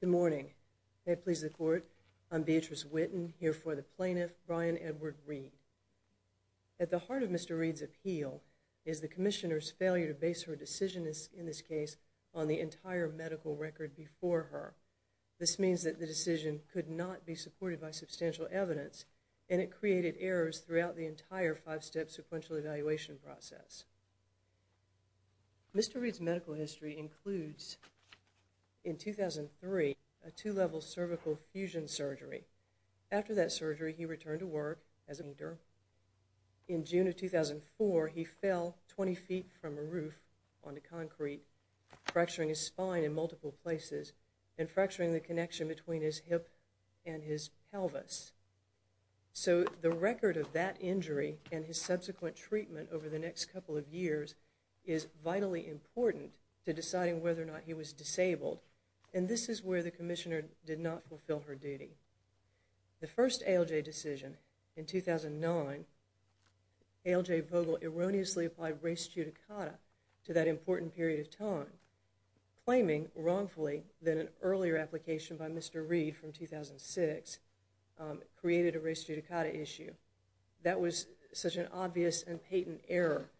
Good morning. May it please the Court, I'm Beatrice Witten, here for the plaintiff, Brian Edward Reid. At the heart of Mr. Reid's appeal is the Commissioner's failure to base her decision in this case on the entire medical record before her. This means that the decision could not be supported by substantial evidence, and it created errors throughout the entire five-step sequential evaluation process. Mr. Reid's medical history includes, in 2003, a two-level cervical fusion surgery. After that surgery, he returned to work as a painter. In June of 2004, he fell 20 feet from a roof onto concrete, fracturing his spine in multiple places and fracturing the connection between his hip and his pelvis. So the record of that injury and his subsequent treatment over the next couple of years is vitally important to deciding whether or not he was disabled. And this is where the Commissioner did not fulfill her duty. The first ALJ decision in 2009, ALJ Vogel erroneously applied res judicata to that important period of time, claiming wrongfully that an earlier application by Mr. Reid from 2006 created a res judicata issue. That was such an obvious and patent error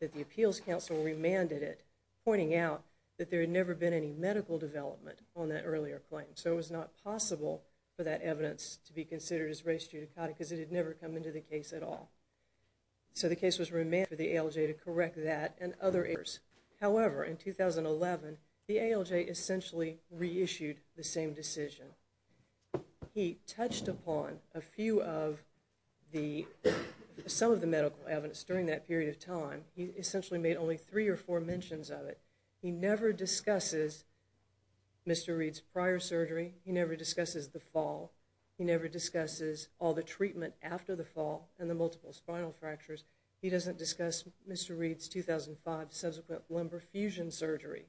that the Appeals Council remanded it, pointing out that there had never been any medical development on that earlier claim. So it was not possible for that evidence to be considered as res judicata because it had never come into the case at all. So the case was remanded for the ALJ to correct that and other errors. However, in 2011, the ALJ essentially reissued the same decision. He touched upon some of the medical evidence during that period of time. He essentially made only three or four mentions of it. He never discusses Mr. Reid's prior surgery. He never discusses the fall. He never discusses all the treatment after the fall and the multiple spinal fractures. He doesn't discuss Mr. Reid's 2005 subsequent lumbar fusion surgery.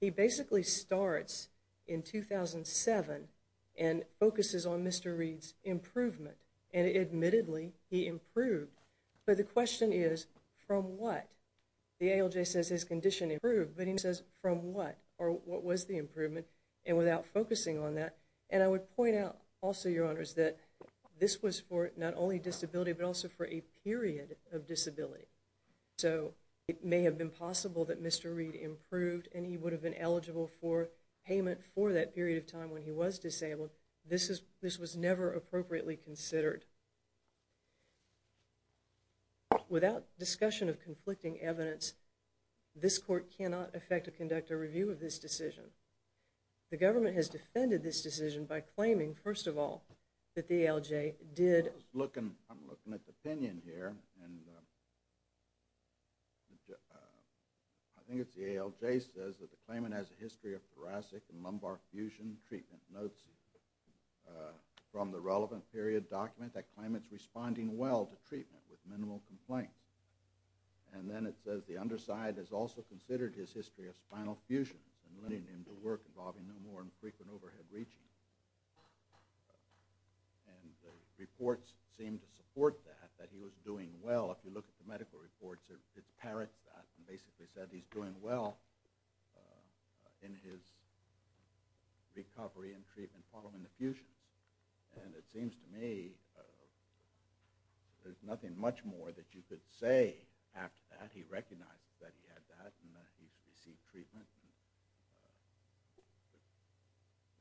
He basically starts in 2007 and focuses on Mr. Reid's improvement, and admittedly, he improved. But the question is, from what? The ALJ says his condition improved, but he says from what, or what was the improvement? And without focusing on that, and I would point out also, Your Honors, that this was for not only disability but also for a period of disability. So it may have been possible that Mr. Reid improved and he would have been eligible for payment for that period of time when he was disabled. This was never appropriately considered. Without discussion of conflicting evidence, this court cannot affect to conduct a review of this decision. The government has defended this decision by claiming, first of all, that the ALJ did. I'm looking at the opinion here, and I think it's the ALJ says that the claimant has a history of thoracic and lumbar fusion treatment. It notes from the relevant period document that claimant's responding well to treatment with minimal complaints. And then it says the underside has also considered his history of spinal fusion and led him to work involving no more infrequent overhead reaching. And the reports seem to support that, that he was doing well. If you look at the medical reports, it parrots that and basically said he's doing well in his recovery and treatment following the fusions. And it seems to me there's nothing much more that you could say after that. He recognizes that he had that and that he's received treatment.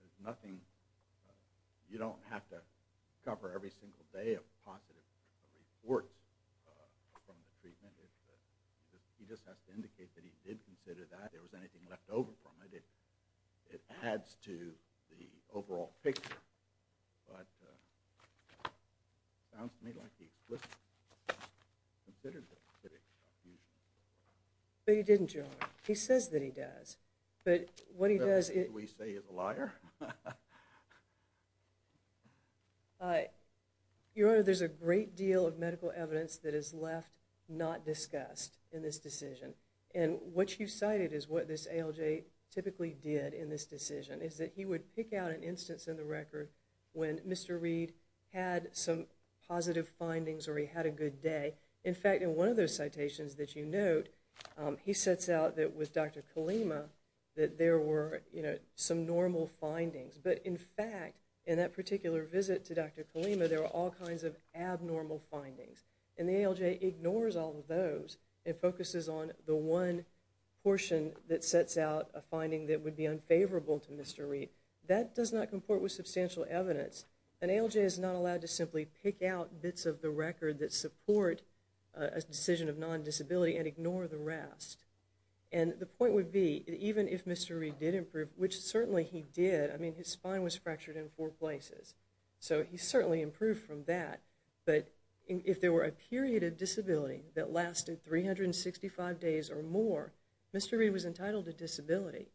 There's nothing. You don't have to cover every single day of positive reports from the treatment. He just has to indicate that he did consider that. If there was anything left over from it, it adds to the overall picture. But it sounds to me like he was considered to have had a fusion. But he didn't, Your Honor. He says that he does. But what he does is— Do we say he's a liar? Your Honor, there's a great deal of medical evidence that is left not discussed in this decision. And what you cited is what this ALJ typically did in this decision, is that he would pick out an instance in the record when Mr. Reed had some positive findings or he had a good day. In fact, in one of those citations that you note, he sets out that with Dr. Kalema, that there were some normal findings. But in fact, in that particular visit to Dr. Kalema, there were all kinds of abnormal findings. And the ALJ ignores all of those and focuses on the one portion that sets out a finding that would be unfavorable to Mr. Reed. That does not comport with substantial evidence. An ALJ is not allowed to simply pick out bits of the record that support a decision of non-disability and ignore the rest. And the point would be, even if Mr. Reed did improve, which certainly he did. I mean, his spine was fractured in four places. So he certainly improved from that. But if there were a period of disability that lasted 365 days or more, Mr. Reed was entitled to disability.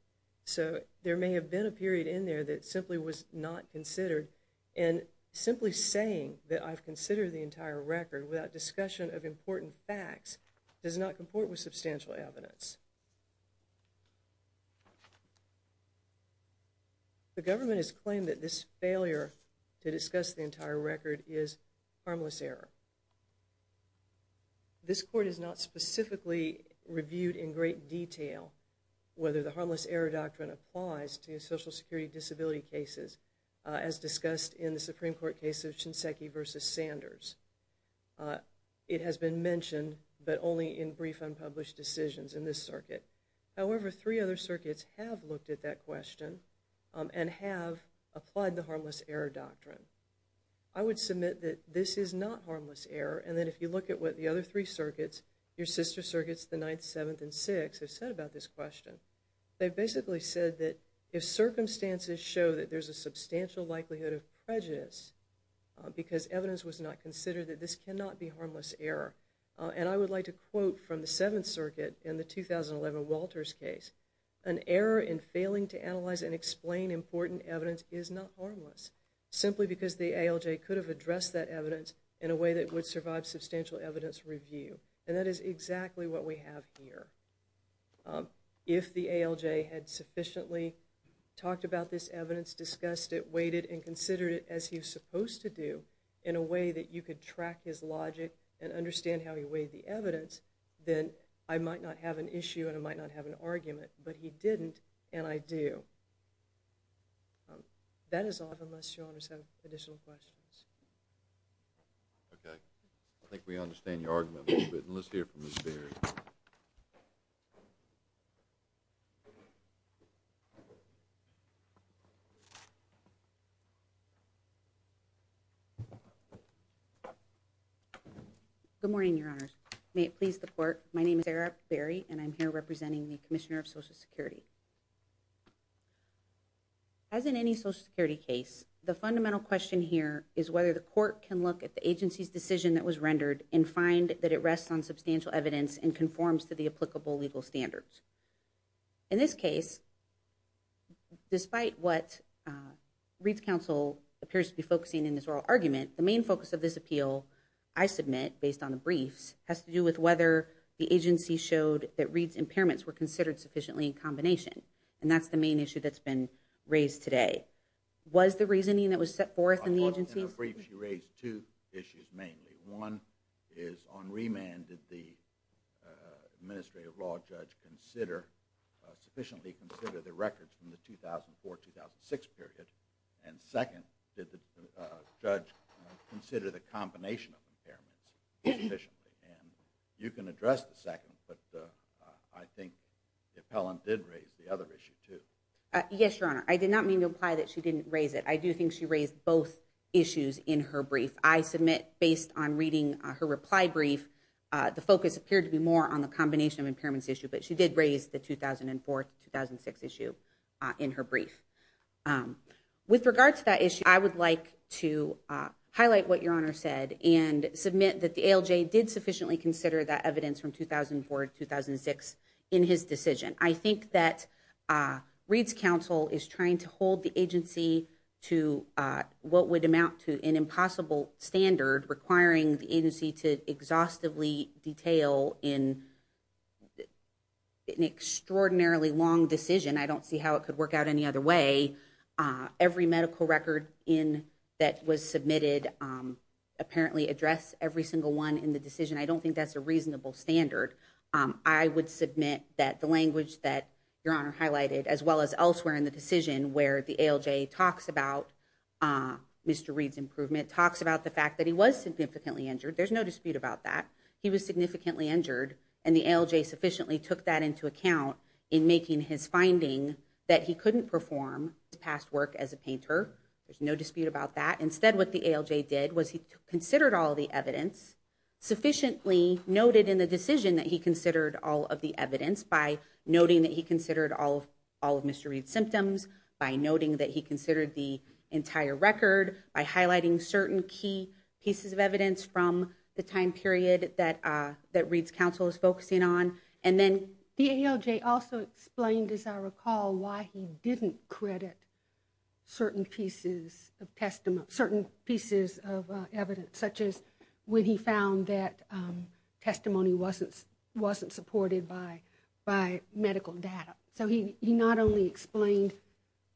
So there may have been a period in there that simply was not considered. And simply saying that I've considered the entire record without discussion of important facts does not comport with substantial evidence. The government has claimed that this failure to discuss the entire record is harmless error. This court has not specifically reviewed in great detail whether the harmless error doctrine applies to social security disability cases as discussed in the Supreme Court case of Shinseki v. Sanders. It has been mentioned, but only in brief unpublished decisions in this circuit. However, three other circuits have looked at that question and have applied the harmless error doctrine. I would submit that this is not harmless error, and that if you look at what the other three circuits, your sister circuits, the Ninth, Seventh, and Sixth, have said about this question, they've basically said that if circumstances show that there's a substantial likelihood of prejudice because evidence was not considered, that this cannot be harmless error. And I would like to quote from the Seventh Circuit in the 2011 Walters case, an error in failing to analyze and explain important evidence is not harmless, simply because the ALJ could have addressed that evidence in a way that would survive substantial evidence review. And that is exactly what we have here. If the ALJ had sufficiently talked about this evidence, discussed it, weighed it, and considered it as he was supposed to do, in a way that you could track his logic and understand how he weighed the evidence, then I might not have an issue and I might not have an argument. But he didn't, and I do. That is all, unless your Honors have additional questions. Okay. I think we understand your argument a little bit, and let's hear from Ms. Berry. Good morning, Your Honors. May it please the Court, my name is Sarah Berry, and I'm here representing the Commissioner of Social Security. As in any Social Security case, the fundamental question here is whether the Court can look at the agency's decision that was rendered and find that it rests on substantial evidence and conforms to the applicable legal standards. In this case, despite what Reed's Counsel appears to be focusing in this oral argument, the main focus of this appeal I submit, based on the briefs, has to do with whether the agency showed that Reed's impairments were considered sufficiently in combination. And that's the main issue that's been raised today. Was the reasoning that was set forth in the agency... In the brief, she raised two issues mainly. One is, on remand, did the administrative law judge sufficiently consider the records from the 2004-2006 period? And second, did the judge consider the combination of impairments sufficiently? You can address the second, but I think the appellant did raise the other issue too. Yes, Your Honor. I did not mean to imply that she didn't raise it. I do think she raised both issues in her brief. I submit, based on reading her reply brief, the focus appeared to be more on the combination of impairments issue, but she did raise the 2004-2006 issue in her brief. With regard to that issue, I would like to highlight what Your Honor said and submit that the ALJ did sufficiently consider that evidence from 2004-2006 in his decision. I think that Reed's counsel is trying to hold the agency to what would amount to an impossible standard requiring the agency to exhaustively detail in an extraordinarily long decision. I don't see how it could work out any other way. Every medical record that was submitted apparently addressed every single one in the decision. I don't think that's a reasonable standard. I would submit that the language that Your Honor highlighted, as well as elsewhere in the decision where the ALJ talks about Mr. Reed's improvement, talks about the fact that he was significantly injured. There's no dispute about that. He was significantly injured, and the ALJ sufficiently took that into account in making his finding that he couldn't perform past work as a painter. There's no dispute about that. Instead, what the ALJ did was he considered all the evidence, sufficiently noted in the decision that he considered all of the evidence by noting that he considered all of Mr. Reed's symptoms, by noting that he considered the entire record, by highlighting certain key pieces of evidence from the time period that Reed's counsel is focusing on. The ALJ also explained, as I recall, why he didn't credit certain pieces of evidence, such as when he found that testimony wasn't supported by medical data. So he not only explained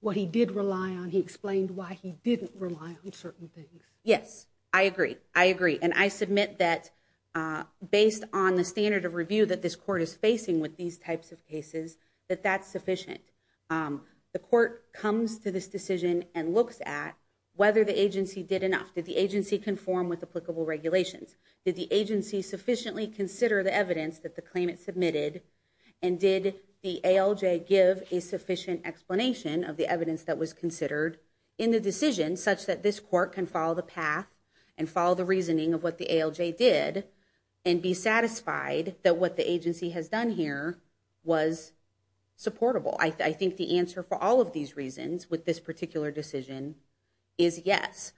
what he did rely on, he explained why he didn't rely on certain things. Yes, I agree. And I submit that based on the standard of review that this court is facing with these types of cases, that that's sufficient. The court comes to this decision and looks at whether the agency did enough. Did the agency conform with applicable regulations? Did the agency sufficiently consider the evidence that the claimant submitted? And did the ALJ give a sufficient explanation of the evidence that was considered in the decision such that this court can follow the path and follow the reasoning of what the ALJ did and be satisfied that what the agency has done here was supportable? I think the answer for all of these reasons with this particular decision is yes.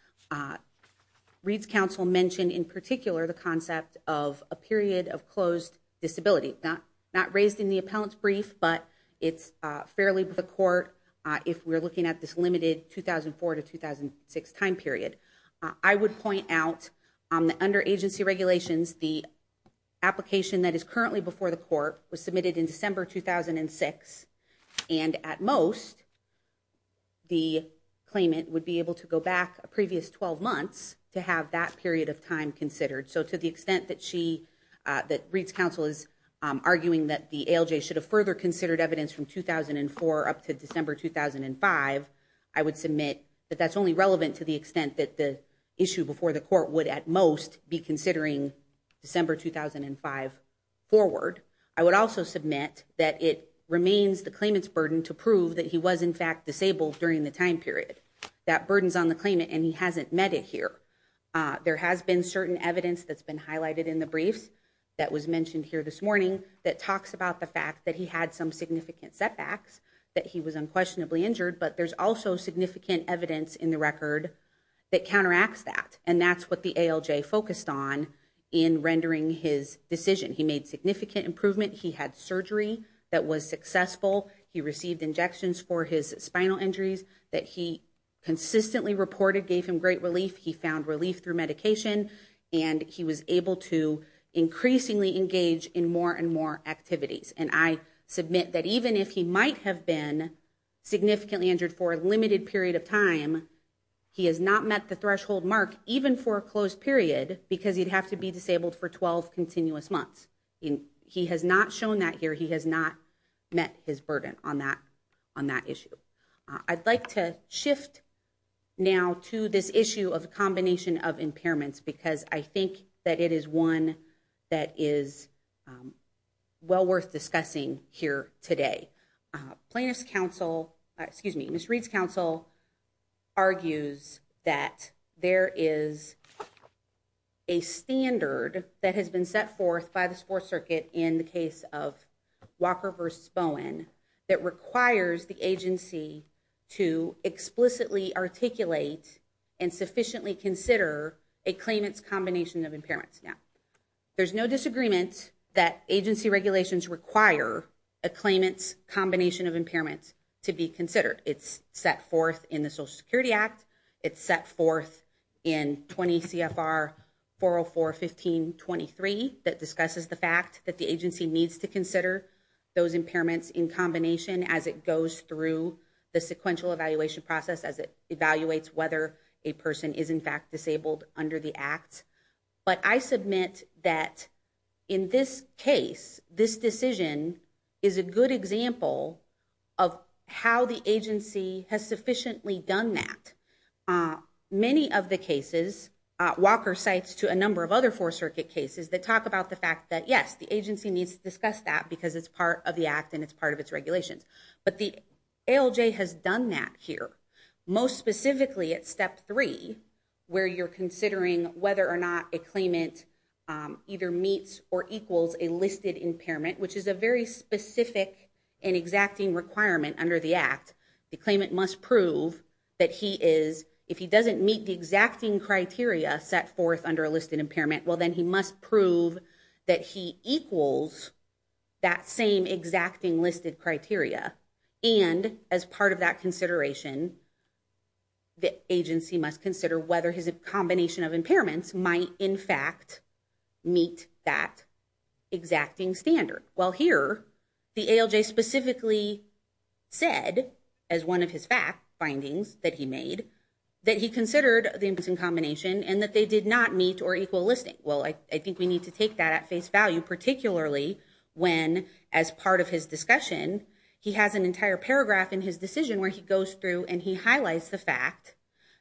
Reed's counsel mentioned in particular the concept of a period of closed disability. Not raised in the appellant's brief, but it's fairly before the court if we're looking at this limited 2004 to 2006 time period. I would point out that under agency regulations, the application that is currently before the court was submitted in December 2006, and at most the claimant would be able to go back a previous 12 months to have that period of time considered. So to the extent that Reed's counsel is arguing that the ALJ should have further considered evidence from 2004 up to December 2005, I would submit that that's only relevant to the extent that the issue before the court would at most be considering December 2005 forward. I would also submit that it remains the claimant's burden to prove that he was, in fact, disabled during the time period. That burden's on the claimant and he hasn't met it here. There has been certain evidence that's been highlighted in the briefs that was mentioned here this morning that talks about the fact that he had some significant setbacks, that he was unquestionably injured, but there's also significant evidence in the record that counteracts that, and that's what the ALJ focused on in rendering his decision. He made significant improvement. He had surgery that was successful. He received injections for his spinal injuries that he consistently reported, gave him great relief. He found relief through medication, and he was able to increasingly engage in more and more activities. And I submit that even if he might have been significantly injured for a limited period of time, he has not met the threshold mark even for a closed period because he'd have to be disabled for 12 continuous months. He has not shown that here. He has not met his burden on that issue. I'd like to shift now to this issue of a combination of impairments because I think that's what we're discussing here today. Plaintiff's counsel, excuse me, Ms. Reed's counsel argues that there is a standard that has been set forth by the sports circuit in the case of Walker versus Bowen that requires the agency to explicitly articulate and sufficiently consider a claimant's combination of impairments. There's no disagreement that agency regulations require a claimant's combination of impairments to be considered. It's set forth in the Social Security Act. It's set forth in 20 CFR 404-1523 that discusses the fact that the agency needs to consider those impairments in combination as it goes through the sequential evaluation process as it evaluates whether a person is in fact disabled under the act. But I submit that in this case this decision is a good example of how the agency has sufficiently done that. Many of the cases Walker cites to a number of other four circuit cases that talk about the fact that yes, the agency needs to discuss that because it's part of the act and it's part of its regulations. But the ALJ has done that here. Most specifically at step three where you're considering whether or not a claimant either meets or equals a listed impairment, which is a very specific and exacting requirement under the act. The claimant must prove that he is, if he doesn't meet the exacting criteria set forth under a listed impairment, well then he must prove that he equals that same exacting listed criteria. And as part of that consideration, the agency must consider whether his combination of impairments might in fact meet that exacting standard. Well, here the ALJ specifically said as one of his findings that he made, that he considered the impairments in combination and that they did not meet or equal listing. Well, I think we need to take that at face value particularly when as part of his decision, he has an entire paragraph in his decision where he goes through and he highlights the fact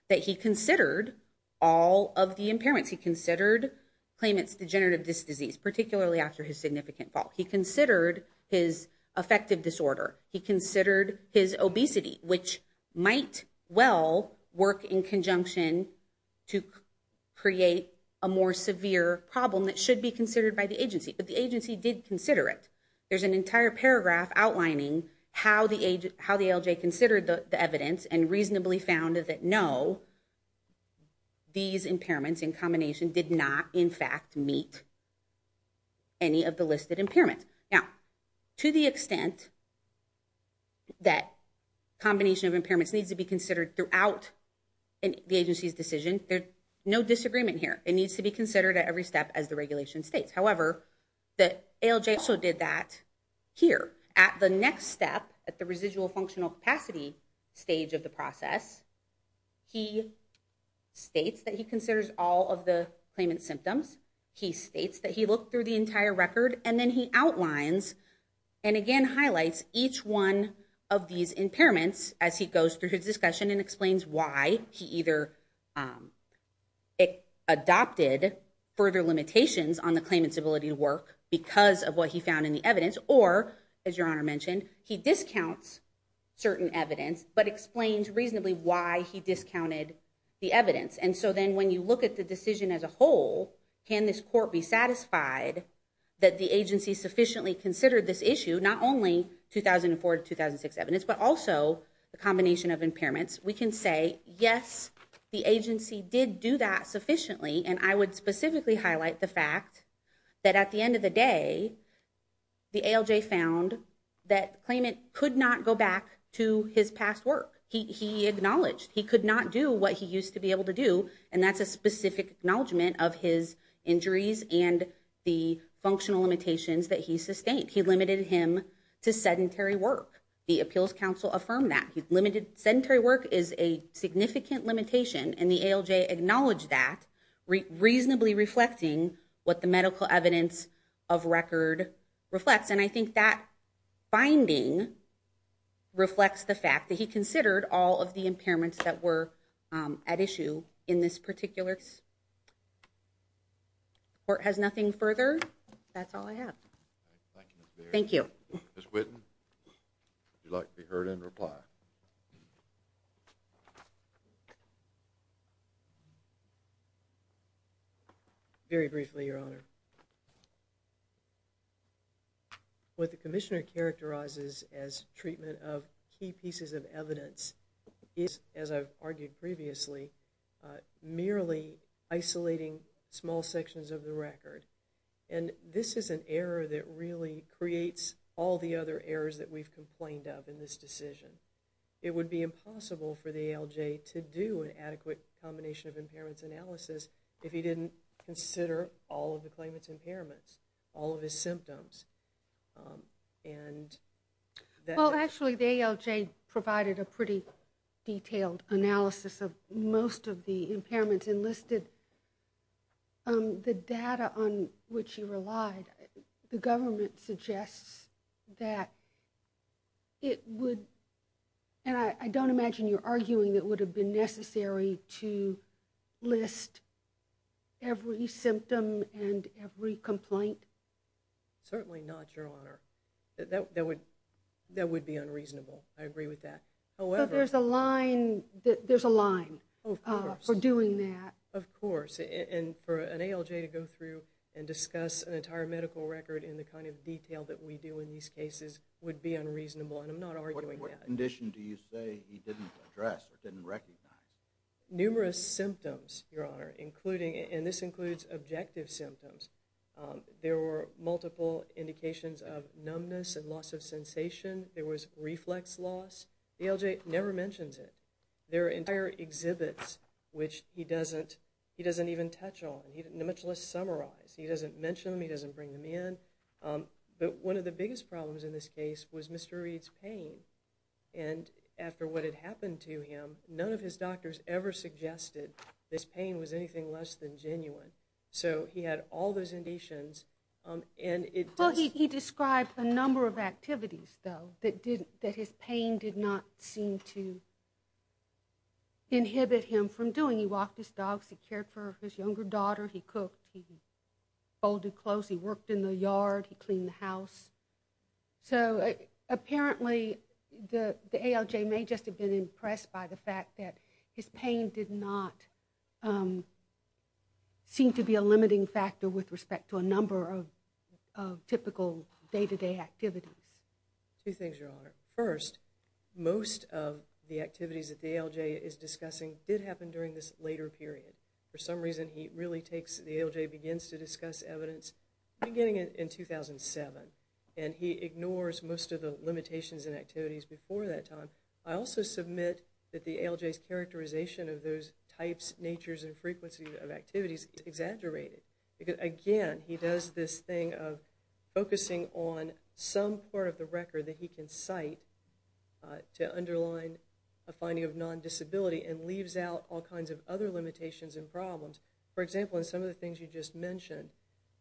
that he considered all of the impairments. He considered claimant's degenerative disc disease, particularly after his significant fall. He considered his affective disorder. He considered his obesity, which might well work in conjunction to create a more severe problem that should be considered by the agency. But the agency did consider it. There's an entire paragraph outlining how the ALJ considered the evidence and reasonably found that no, these impairments in combination did not in fact meet any of the listed impairments. Now, to the extent that combination of impairments needs to be considered throughout the agency's decision, there's no disagreement here. It needs to be considered at every step as the regulation states. However, the ALJ also did that here. At the next step, at the residual functional capacity stage of the process, he states that he considers all of the claimant's symptoms. He states that he looked through the entire record and then he outlines and again highlights each one of these impairments as he goes through his discussion and explains why he either adopted further limitations on the ability to work because of what he found in the evidence or as your honor mentioned, he discounts certain evidence but explains reasonably why he discounted the evidence. And so then when you look at the decision as a whole, can this court be satisfied that the agency sufficiently considered this issue, not only 2004 to 2006 evidence, but also the combination of impairments, we can say, yes, the agency did do that sufficiently. And I would specifically highlight the fact that at the end of the day, the ALJ found that claimant could not go back to his past work. He acknowledged he could not do what he used to be able to do and that's a specific acknowledgement of his injuries and the functional limitations that he sustained. He limited him to sedentary work. The appeals council affirmed that. Sedentary work is a significant limitation and the ALJ acknowledged that reasonably reflecting what the medical evidence of record reflects. And I think that finding reflects the fact that he considered all of the impairments that were at issue in this particular court has nothing further. That's all I have. Thank you. Ms. Whitten, would you like to be heard in reply? Very briefly, Your Honor. What the commissioner characterizes as treatment of key pieces of evidence is, as I've argued previously, merely isolating small sections of the record. This is an error that really creates all the other errors that we've complained of in this decision. It would be impossible for the ALJ to do an adequate combination of impairments analysis if he didn't consider all of the claimant's impairments, all of his symptoms. Actually, the ALJ provided a pretty detailed analysis of most of the impairments and the data on which he relied. The government suggests that it would, and I don't imagine you're arguing that it would have been necessary to list every symptom and every complaint. Certainly not, Your Honor. That would be unreasonable. I agree with that. There's a line for doing that. Of course, and for an ALJ to go through and discuss an entire medical record in the kind of detail that we do in these cases would be unreasonable, and I'm not arguing that. What condition do you say he didn't address or didn't recognize? Numerous symptoms, Your Honor, including, and this includes objective symptoms. There were multiple indications of numbness and loss of sensation. There was reflex loss. The ALJ never mentions it. There are entire exhibits which he doesn't even touch on, much less summarize. He doesn't mention them. He doesn't bring them in. But one of the biggest problems in this case was Mr. Reed's pain, and after what had happened to him, none of his doctors ever suggested this pain was anything less than genuine. So he had all those indications. He described a number of activities, though, that his pain did not seem to inhibit him from doing. He walked his dogs. He cared for his younger daughter. He cooked. He folded clothes. He worked in the yard. He cleaned the house. So apparently the ALJ may just have been impressed by the fact that his pain did not seem to be a limiting factor with respect to a number of typical day-to-day activities. Two things, Your Honor. First, most of the activities that the ALJ is discussing did happen during this later period. For some reason, he really takes the ALJ begins to discuss evidence beginning in 2007, and he ignores most of the limitations and activities before that time. I also submit that the ALJ's characterization of those types, natures, and frequencies of activities is exaggerated. Again, he does this thing of focusing on some part of the record that he can cite to underline a finding of non-disability and leaves out all kinds of other limitations and problems. For example, in some of the things you just mentioned,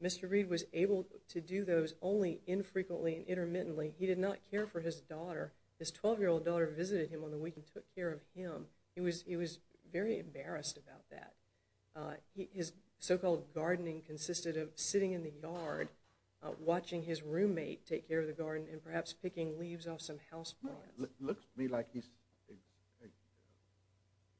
Mr. Reed was able to do those only infrequently and intermittently. He did not care for his daughter. His 12-year-old daughter visited him on the week and took care of him. He was very embarrassed about that. His so-called gardening consisted of sitting in the yard, watching his roommate take care of the garden, and perhaps picking leaves off some house plants. It looks to me like he's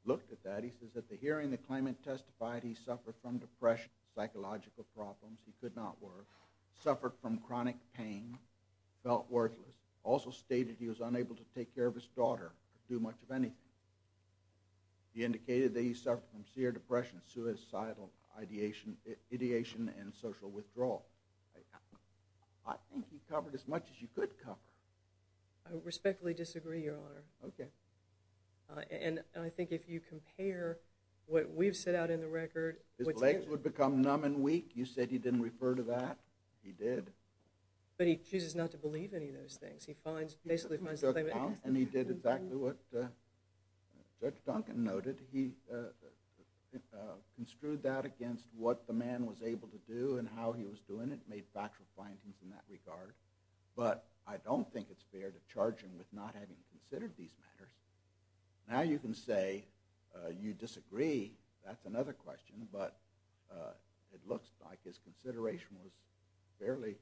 looked at that. He says that the hearing the claimant testified he suffered from depression, psychological problems he could not work, suffered from chronic pain, felt worthless, also stated he was unable to take care of his daughter, could do much of anything. He indicated that he suffered from severe depression, suicidal ideation, and social withdrawal. I think he covered as much as you could cover. I respectfully disagree, Your Honor. Okay. And I think if you compare what we've set out in the record. His legs would become numb and weak. You said he didn't refer to that. He did. But he chooses not to believe any of those things. And he did exactly what Judge Duncan noted. He construed that against what the man was able to do and how he was doing it, made factual findings in that regard. But I don't think it's fair to charge him with not having considered these matters. Now you can say you disagree. That's another question. But it looks like his consideration was fairly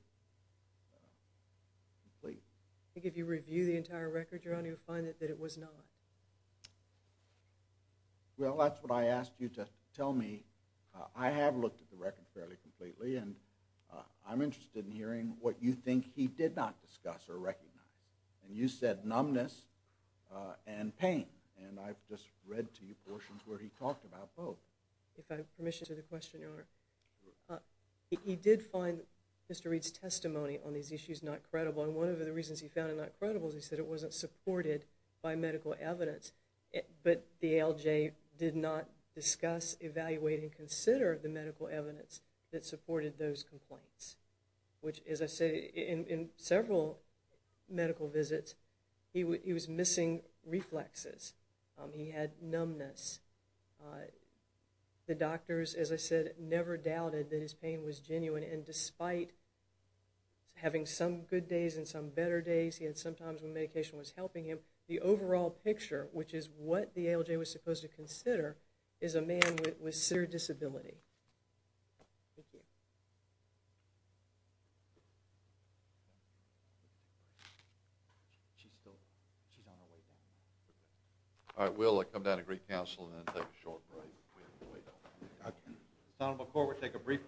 complete. I think if you review the entire record, Your Honor, you'll find that it was not. Well, that's what I asked you to tell me. I have looked at the record fairly completely, and I'm interested in hearing what you think he did not discuss or recognize. And you said numbness and pain, and I've just read to you portions where he talked about both. If I have permission to answer the question, Your Honor, he did find Mr. Reed's testimony on these issues not credible. And one of the reasons he found it not credible is he said it wasn't supported by medical evidence. But the ALJ did not discuss, evaluate, and consider the medical evidence that supported those complaints, which, as I said, in several medical visits, he was missing reflexes. He had numbness. The doctors, as I said, never doubted that his pain was genuine, and despite having some good days and some better days he had, sometimes when medication was helping him, the overall picture, which is what the ALJ was supposed to consider, is a man with severe disability. Thank you. All right, we'll come down to Greek Council and then take a short break. We have to wait. Senator McCord, we'll take a brief recess.